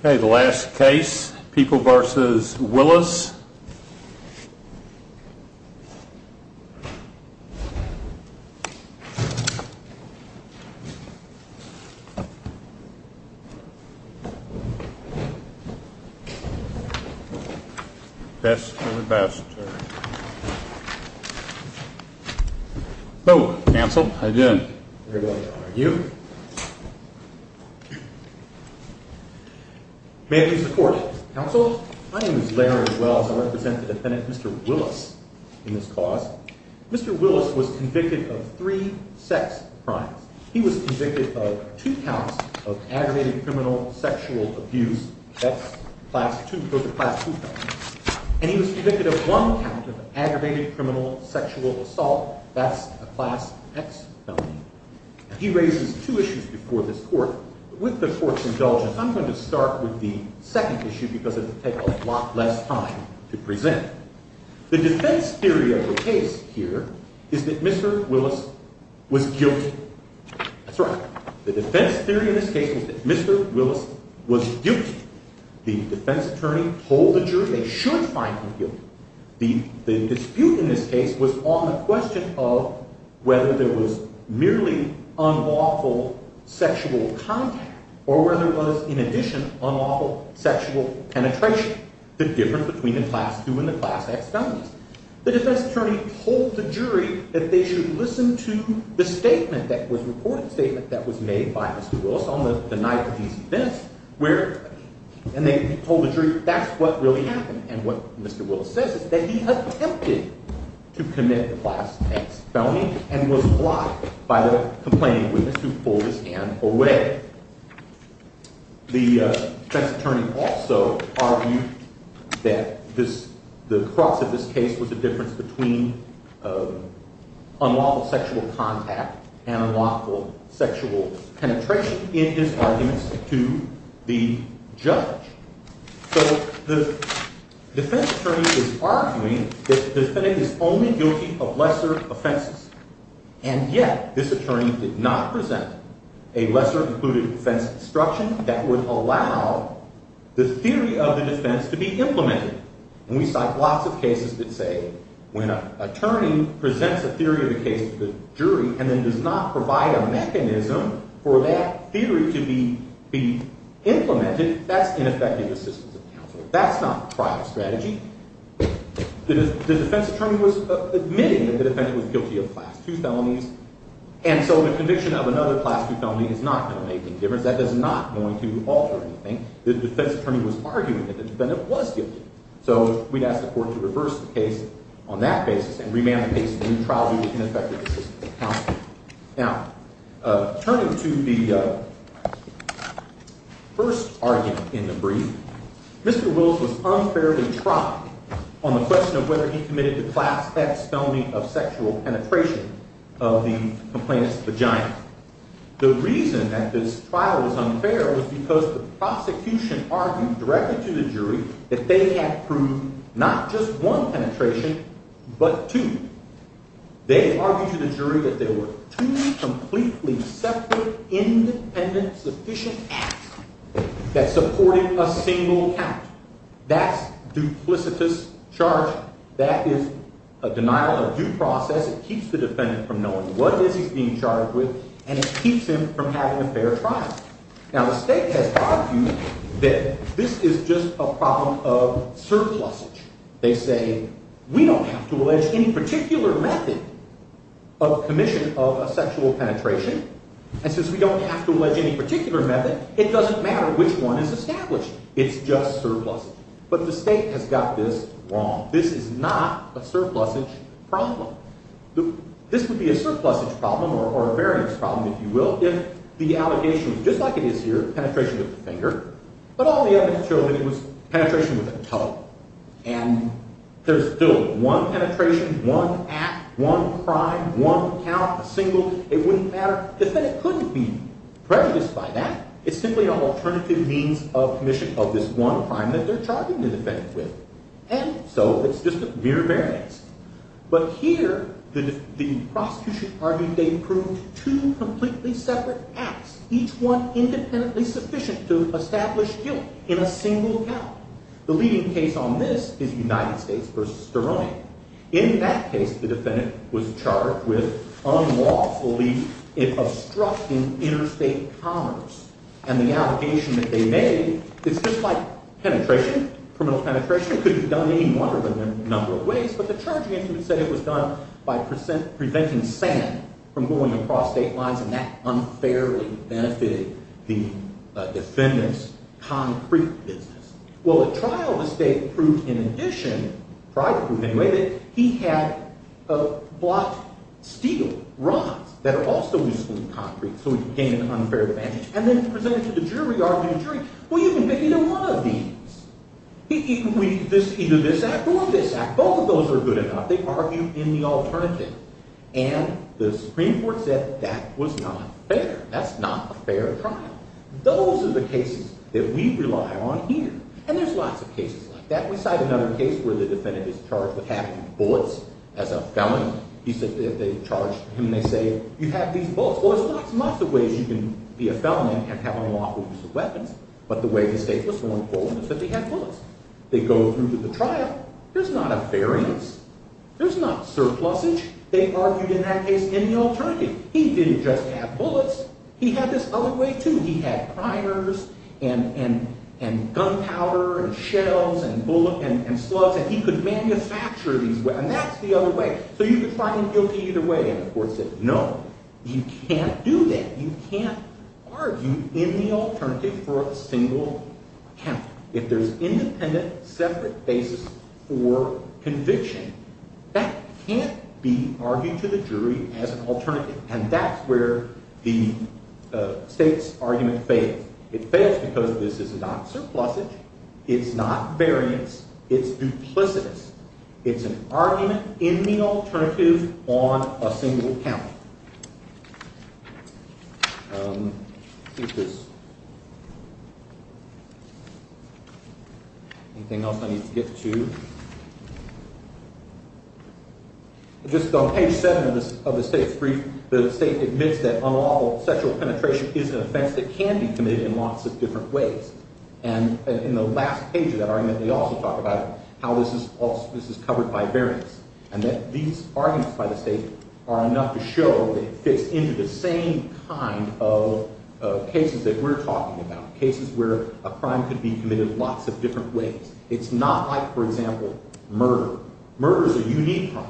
Okay, the last case, People v. Willis. Best of the best, sir. Hello, counsel. How you doing? Very well, thank you. May I please have the floor? Counsel? My name is Larry Wells. I represent the defendant, Mr. Willis, in this cause. Mr. Willis was convicted of three sex crimes. He was convicted of two counts of aggravated criminal sexual abuse. That's class two. Those are class two counts. And he was convicted of one count of aggravated criminal sexual assault. That's a class X felony. He raises two issues before this court. With the court indulgent, I'm going to start with the second issue because it will take a lot less time to present. The defense theory of the case here is that Mr. Willis was guilty. That's right. The defense theory in this case is that Mr. Willis was guilty. The defense attorney told the jury they should find him guilty. The dispute in this case was on the question of whether there was merely unlawful sexual contact or whether there was, in addition, unlawful sexual penetration, the difference between the class two and the class X felonies. The defense attorney told the jury that they should listen to the statement that was reported, the statement that was made by Mr. Willis on the night of these events, and they told the jury that's what really happened. And what Mr. Willis says is that he attempted to commit the class X felony and was blocked by the complaining witness who pulled his hand away. The defense attorney also argued that the cross of this case was the difference between unlawful sexual contact and unlawful sexual penetration in his arguments to the judge. So the defense attorney is arguing that the defendant is only guilty of lesser offenses, and yet this attorney did not present a lesser included offense instruction that would allow the theory of the defense to be implemented. And we cite lots of cases that say when an attorney presents a theory of the case to the jury and then does not provide a mechanism for that theory to be implemented, that's ineffective assistance of counsel. That's not the trial strategy. The defense attorney was admitting that the defendant was guilty of class two felonies, and so the conviction of another class two felony is not going to make any difference. That is not going to alter anything. The defense attorney was arguing that the defendant was guilty. So we'd ask the court to reverse the case on that basis and remand the case to a new trial that would be ineffective assistance of counsel. Now, turning to the first argument in the brief, Mr. Wills was unfairly trotting on the question of whether he committed the class X felony of sexual penetration of the complainant's vagina. The reason that this trial was unfair was because the prosecution argued directly to the jury that they had proved not just one penetration but two. They argued to the jury that there were two completely separate, independent, sufficient acts that supported a single count. That's duplicitous charge. That is a denial of due process. It keeps the defendant from knowing what it is he's being charged with, and it keeps him from having a fair trial. Now, the state has argued that this is just a problem of surplusage. They say, we don't have to allege any particular method of commission of a sexual penetration, and since we don't have to allege any particular method, it doesn't matter which one is established. It's just surplusage. But the state has got this wrong. This is not a surplusage problem. This would be a surplusage problem or a variance problem, if you will, if the allegation was just like it is here, penetration with the finger, but all the evidence showed that it was penetration with a toe. And there's still one penetration, one act, one crime, one count, a single. It wouldn't matter. The defendant couldn't be prejudiced by that. It's simply an alternative means of commission of this one crime that they're charging the defendant with. And so it's just a mere variance. But here, the prosecution argued they proved two completely separate acts, each one independently sufficient to establish guilt in a single account. The leading case on this is United States v. Sterling. In that case, the defendant was charged with unlawfully obstructing interstate commerce. And the allegation that they made, it's just like penetration, criminal penetration, could have done any wonder in a number of ways, but the charge against them said it was done by preventing sand from going across state lines, and that unfairly benefited the defendant's concrete business. Well, a trial of the state proved in addition, private proof anyway, that he had blocked steel rods that are also used for concrete, so he could gain an unfair advantage. And then presented to the jury, argued jury, well, you can pick either one of these. Either this act or this act. Both of those are good enough. They argued in the alternative. And the Supreme Court said that was not fair. That's not a fair trial. Those are the cases that we rely on here. And there's lots of cases like that. We cite another case where the defendant is charged with having bullets as a felon. They charge him, they say, you have these bullets. Well, there's lots and lots of ways you can be a felon and have an unlawful use of weapons, but the way the state was going forward was that they had bullets. They go through to the trial. There's not a fair use. There's not surplusage. They argued in that case in the alternative. He didn't just have bullets. He had this other way, too. He had primers and gunpowder and shells and slugs, and he could manufacture these. And that's the other way. So you could try him guilty either way. And the court said, no, you can't do that. You can't argue in the alternative for a single count. If there's independent, separate basis for conviction, that can't be argued to the jury as an alternative. And that's where the state's argument fails. It fails because this is not surplusage. It's not variance. It's duplicitous. It's an argument in the alternative on a single count. I think there's anything else I need to get to. Just on page 7 of the state's brief, the state admits that unlawful sexual penetration is an offense that can be committed in lots of different ways. And in the last page of that argument, they also talk about how this is covered by variance and that these arguments by the state are enough to show that it fits into the same kind of cases that we're talking about, cases where a crime could be committed in lots of different ways. It's not like, for example, murder. Murder is a unique crime.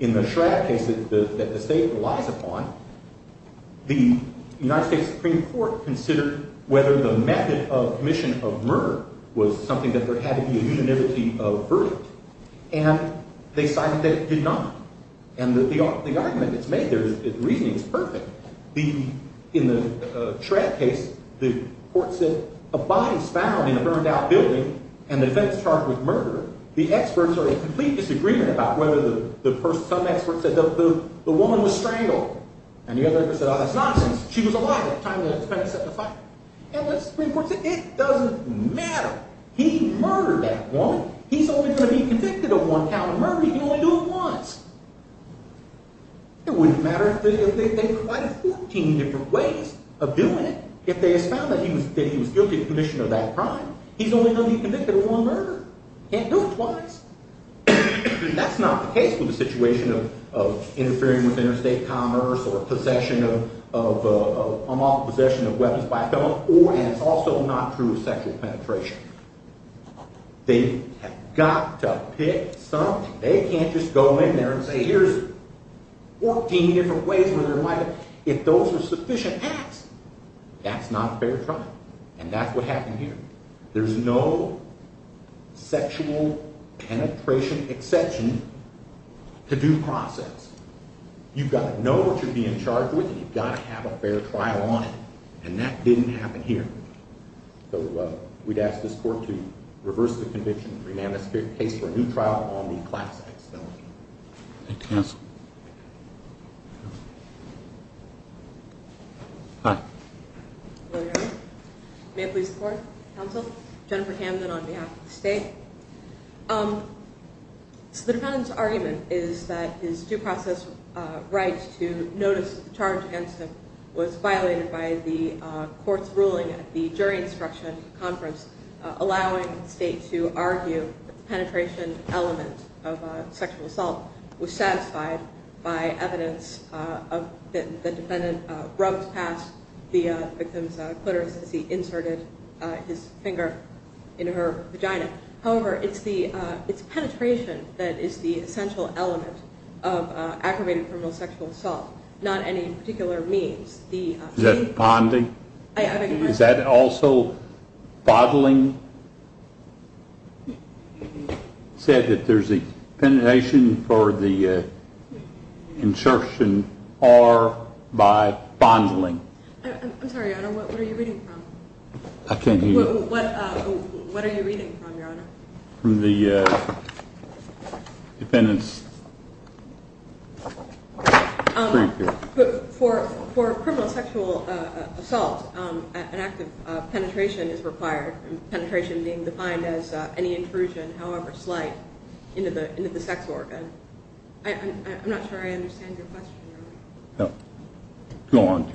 In the Schrader case that the state relies upon, the United States Supreme Court considered whether the method of commission of murder was something that there had to be a unanimity of verdict. And they decided that it did not. And the argument that's made there, the reasoning, is perfect. In the Schrader case, the court said, a body is found in a burned-out building and the defense charged with murder. The experts are in complete disagreement about whether the person, some experts, said the woman was strangled. And the other experts said, oh, that's nonsense. She was alive at the time that the defendant set the fire. And the Supreme Court said, it doesn't matter. He murdered that woman. He's only going to be convicted of one count of murder. He can only do it once. It wouldn't matter if they tried 14 different ways of doing it. If they found that he was guilty of commission of that crime, he's only going to be convicted of one murder. He can't do it twice. That's not the case with the situation of interfering with interstate commerce or possession of, unlawful possession of weapons by a felon. Or, and it's also not true of sexual penetration. They have got to pick something. They can't just go in there and say, here's 14 different ways where there might have, if those were sufficient acts, that's not a fair trial. And that's what happened here. There's no sexual penetration exception to due process. You've got to know what you're being charged with and you've got to have a fair trial on it. And that didn't happen here. So we'd ask this court to reverse the conviction and remand the case for a new trial on the class X felony. Thank you, counsel. Hi. Hello there. May I please report, counsel? Jennifer Hamden on behalf of the state. So the defendant's argument is that his due process rights to notice the charge against him was violated by the court's ruling at the jury instruction conference, allowing the state to argue that the penetration element of sexual assault was satisfied by evidence that the defendant rubbed past the victim's clitoris as he inserted his finger in her vagina. However, it's penetration that is the essential element of aggravated criminal sexual assault, not any particular means. Is that bonding? Is that also bottling? It said that there's a penetration for the insertion or by bottling. I'm sorry, Your Honor. What are you reading from? I can't hear you. What are you reading from, Your Honor? From the defendant's brief here. For criminal sexual assault, an act of penetration is required. Penetration being defined as any intrusion, however slight, into the sex organ. I'm not sure I understand your question, Your Honor. No. Go on.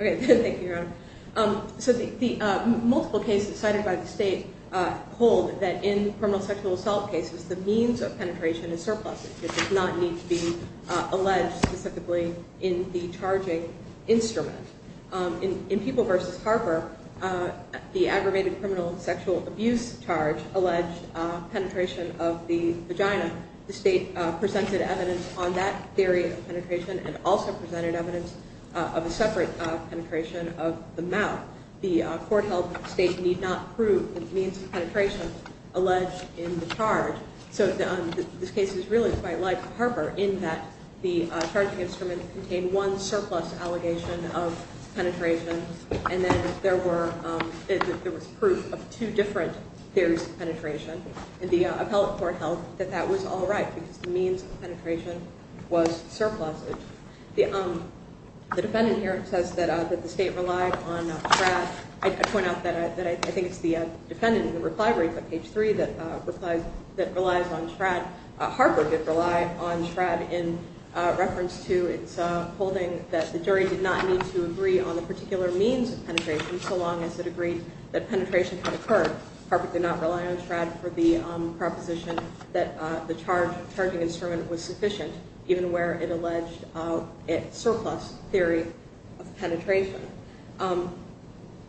OK. Thank you, Your Honor. So the multiple cases cited by the state hold that in criminal sexual assault cases, the means of penetration is surplus. It does not need to be alleged specifically in the charging instrument. In People v. Harper, the aggravated criminal sexual abuse charge alleged penetration of the vagina. The state presented evidence on that theory of penetration and also presented evidence of a separate penetration of the mouth. The court held that the state need not prove the means of penetration alleged in the charge. So this case is really quite like Harper in that the charging instrument contained one surplus allegation of penetration. And then there was proof of two different theories of penetration. And the appellate court held that that was all right because the means of penetration was surplus. The defendant here says that the state relied on trash. I point out that I think it's the defendant in the reply to page three that replies that relies on Shradd. Harper did rely on Shradd in reference to its holding that the jury did not need to agree on the particular means of penetration so long as it agreed that penetration had occurred. Harper did not rely on Shradd for the proposition that the charging instrument was sufficient, even where it alleged a surplus theory of penetration.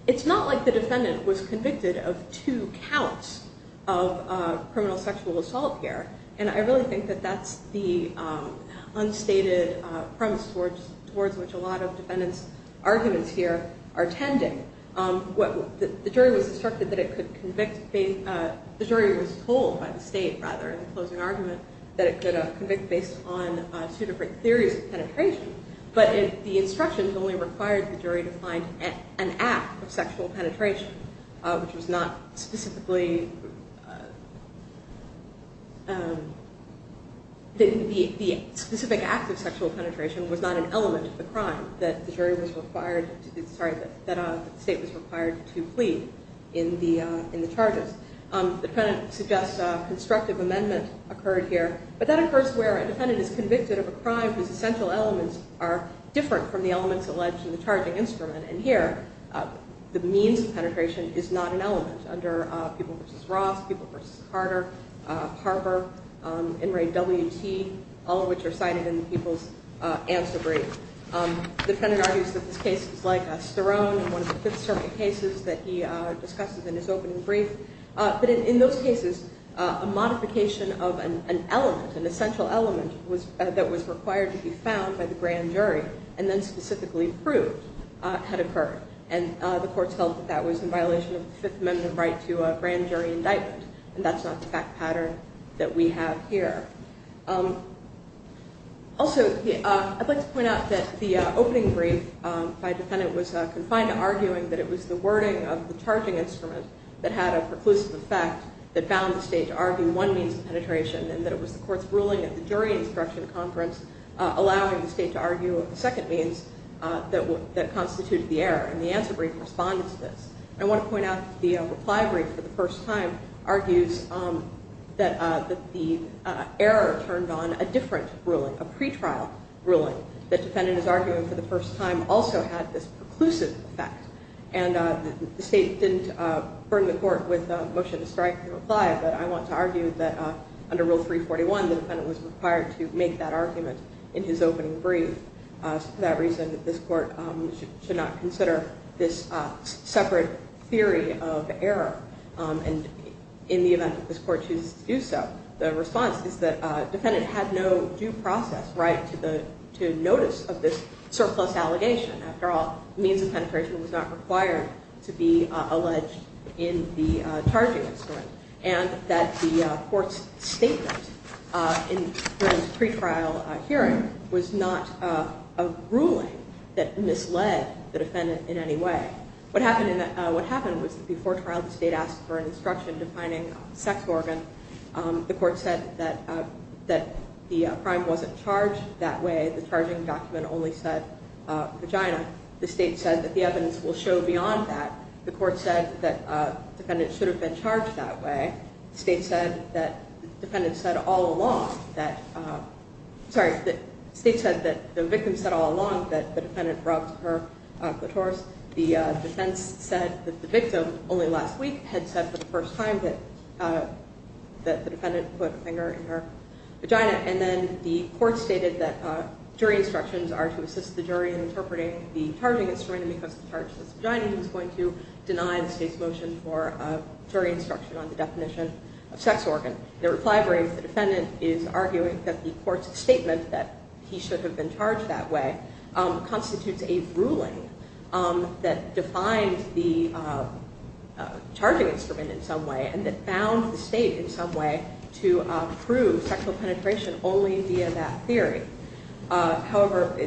It's not like the defendant was convicted of two counts of criminal sexual assault here. And I really think that that's the unstated premise towards which a lot of defendants' arguments here are tending. The jury was told by the state in the closing argument that it could convict based on two different theories of penetration. But the instructions only required the jury to find an act of sexual penetration, which was not specifically the specific act of sexual penetration was not an element of the crime that the state was required to plead in the charges. The defendant suggests a constructive amendment occurred here. But that occurs where a defendant is convicted of a crime whose essential elements are different from the elements alleged in the charging instrument. And here, the means of penetration is not an element under People v. Ross, People v. Carter, Harper, In re WT, all of which are cited in the People's Answer Brief. The defendant argues that this case is like Sterone in one of the Fifth Circuit cases that he discusses in his opening brief. But in those cases, a modification of an element, an essential element, that was required to be found by the grand jury and then specifically proved had occurred. And the courts held that that was in violation of the Fifth Amendment right to a grand jury indictment. And that's not the fact pattern that we have here. Also, I'd like to point out that the opening brief by a defendant was confined to arguing that it was the wording of the charging instrument that had a preclusive effect that bound the state to argue one means of penetration and that it was the court's ruling at the jury instruction conference allowing the state to argue a second means that constituted the error. And the answer brief responds to this. I want to point out that the reply brief for the first time argues that the error turned on a different ruling, a pretrial ruling. The defendant is arguing for the first time also had this preclusive effect. And the state didn't burn the court with a motion to strike to reply, but I want to argue that under Rule 341, the defendant was required to make that argument in his opening brief. For that reason, this court should not consider this separate theory of error. And in the event that this court chooses to do so, the response is that defendant had no due process right to notice of this surplus allegation. After all, means of penetration was not required to be alleged in the charging instrument. And that the court's statement in the pretrial hearing was not a ruling that misled the defendant in any way. What happened was that before trial, the state asked for an instruction defining sex organ. The court said that the crime wasn't charged that way. The charging document only said vagina. The state said that the evidence will show beyond that. The court said that the defendant should have been charged that way. The state said that the victim said all along that the defendant rubbed her clitoris. The defense said that the victim only last week had said for the first time that the defendant put a finger in her vagina. And then the court stated that jury instructions are to assist the jury in interpreting the charging instrument because the charge was vagina. He was going to deny the state's motion for jury instruction on the definition of sex organ. The reply varies. The defendant is arguing that the court's statement that he should have been charged that way constitutes a ruling that defines the charging instrument in some way. And that found the state in some way to prove sexual penetration only via that theory. However,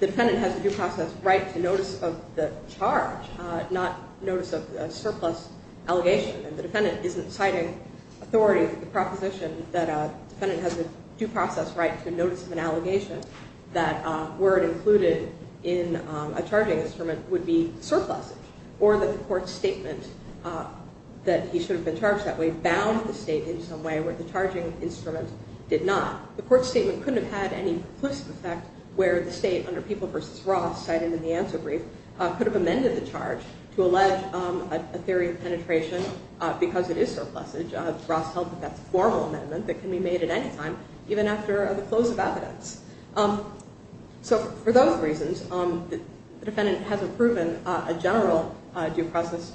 the defendant has a due process right to notice of the charge, not notice of a surplus allegation. And the defendant isn't citing authority for the proposition that a defendant has a due process right to notice of an allegation that word included in a charging instrument would be surplusage. Or that the court's statement that he should have been charged that way bound the state in some way where the charging instrument did not. The court's statement couldn't have had any perplusive effect where the state, under People v. Ross, cited in the answer brief, could have amended the charge to allege a theory of penetration because it is surplusage. Ross held that that's a formal amendment that can be made at any time, even after the close of evidence. So for those reasons, the defendant hasn't proven a general due process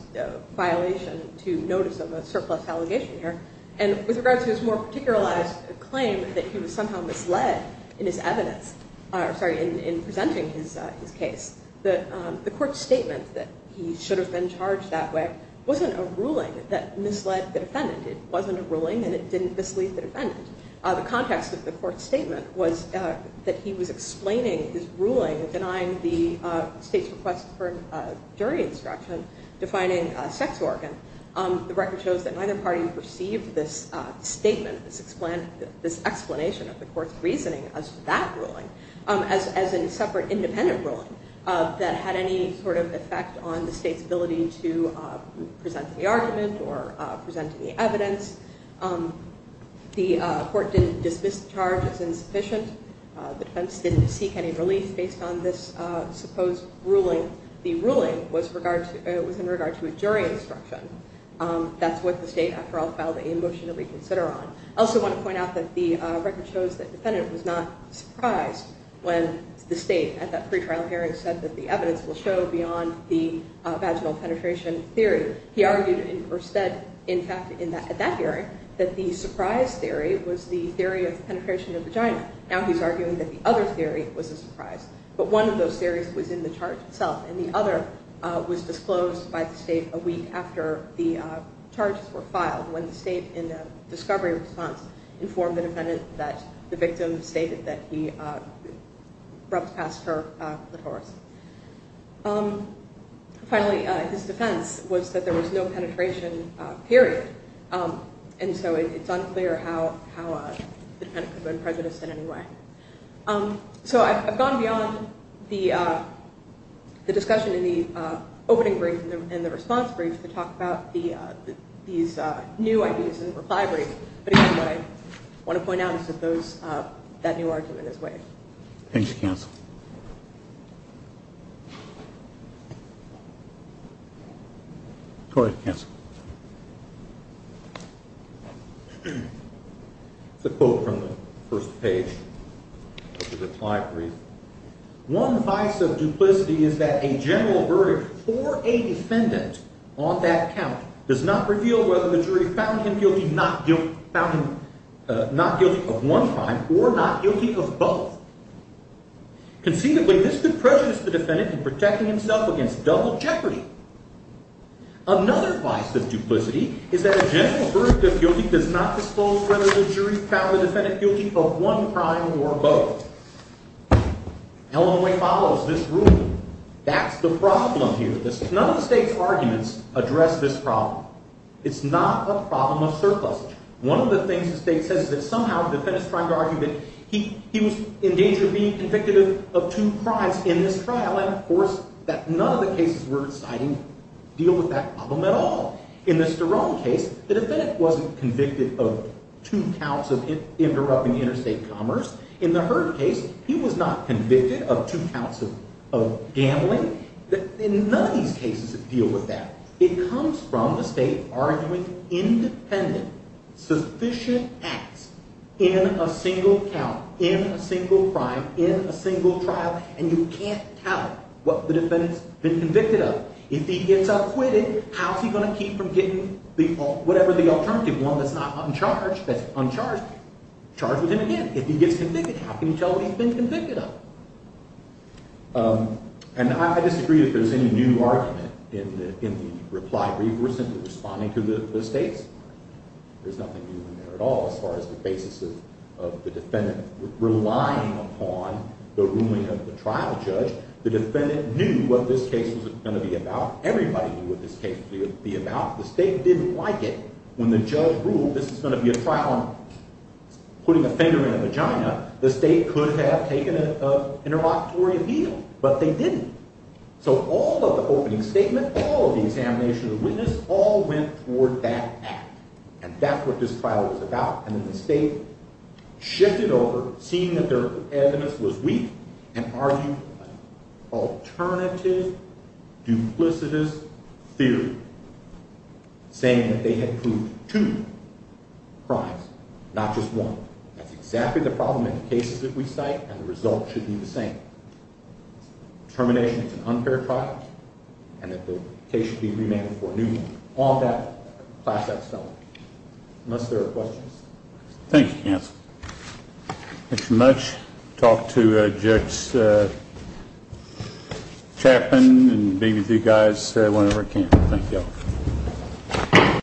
violation to notice of a surplus allegation here. And with regards to his more particularized claim that he was somehow misled in his evidence, sorry, in presenting his case, the court's statement that he should have been charged that way wasn't a ruling that misled the defendant. It wasn't a ruling and it didn't mislead the defendant. The context of the court's statement was that he was explaining his ruling denying the state's request for a jury instruction defining a sex organ. The record shows that neither party received this statement, this explanation of the court's reasoning as to that ruling as a separate independent ruling that had any sort of effect on the state's ability to present the argument or present any evidence. The court didn't dismiss the charge as insufficient. The defense didn't seek any relief based on this supposed ruling. The ruling was in regard to a jury instruction. That's what the state after all filed a motion to reconsider on. I also want to point out that the record shows that the defendant was not surprised when the state at that pretrial hearing said that the evidence will show beyond the vaginal penetration theory. He argued or said, in fact, at that hearing that the surprise theory was the theory of penetration of the vagina. Now he's arguing that the other theory was a surprise. But one of those theories was in the charge itself and the other was disclosed by the state a week after the charges were filed when the state in a discovery response informed the defendant that the victim stated that he rubbed past her clitoris. Finally, his defense was that there was no penetration period. And so it's unclear how the defendant could have been prejudiced in any way. So I've gone beyond the discussion in the opening brief and the response brief to talk about these new ideas in the reply brief. But again, what I want to point out is that that new argument is way. Thank you, counsel. Go ahead, counsel. It's a quote from the first page of the reply brief. One vice of duplicity is that a general verdict for a defendant on that count does not reveal whether the jury found him guilty of one crime or not guilty of both. Conceivably, this could prejudice the defendant in protecting himself against double jeopardy. Another vice of duplicity is that a general verdict of guilty does not disclose whether the jury found the defendant guilty of one crime or both. Illinois follows this rule. That's the problem here. None of the state's arguments address this problem. It's not a problem of surplus. One of the things the state says is that somehow the defendant's trying to argue that he was in danger of being convicted of two crimes in this trial. And of course, none of the cases we're citing deal with that problem at all. In the Sterone case, the defendant wasn't convicted of two counts of interrupting interstate commerce. In the Hurd case, he was not convicted of two counts of gambling. None of these cases deal with that. It comes from the state arguing independent, sufficient acts in a single count, in a single crime, in a single trial. And you can't tell what the defendant's been convicted of. If he gets acquitted, how's he going to keep from getting whatever the alternative, one that's not uncharged, that's uncharged, charged with him again? If he gets convicted, how can you tell what he's been convicted of? And I disagree if there's any new argument in the reply brief. We're simply responding to the state's. There's nothing new in there at all as far as the basis of the defendant relying upon the ruling of the trial judge. The defendant knew what this case was going to be about. Everybody knew what this case would be about. The state didn't like it. When the judge ruled this was going to be a trial on putting a finger in a vagina, the state could have taken an interlocutory appeal. But they didn't. So all of the opening statement, all of the examination of the witness, all went toward that act. And that's what this trial was about. And then the state shifted over, seeing that their evidence was weak, and argued an alternative duplicitous theory, saying that they had proved two crimes, not just one. That's exactly the problem in the cases that we cite, and the result should be the same. Termination is an unfair trial, and that the case should be remanded for a new one. All of that, class acts don't. Unless there are questions. Thank you, counsel. Thanks so much. Talk to Judge Chapman and maybe the guys whenever I can.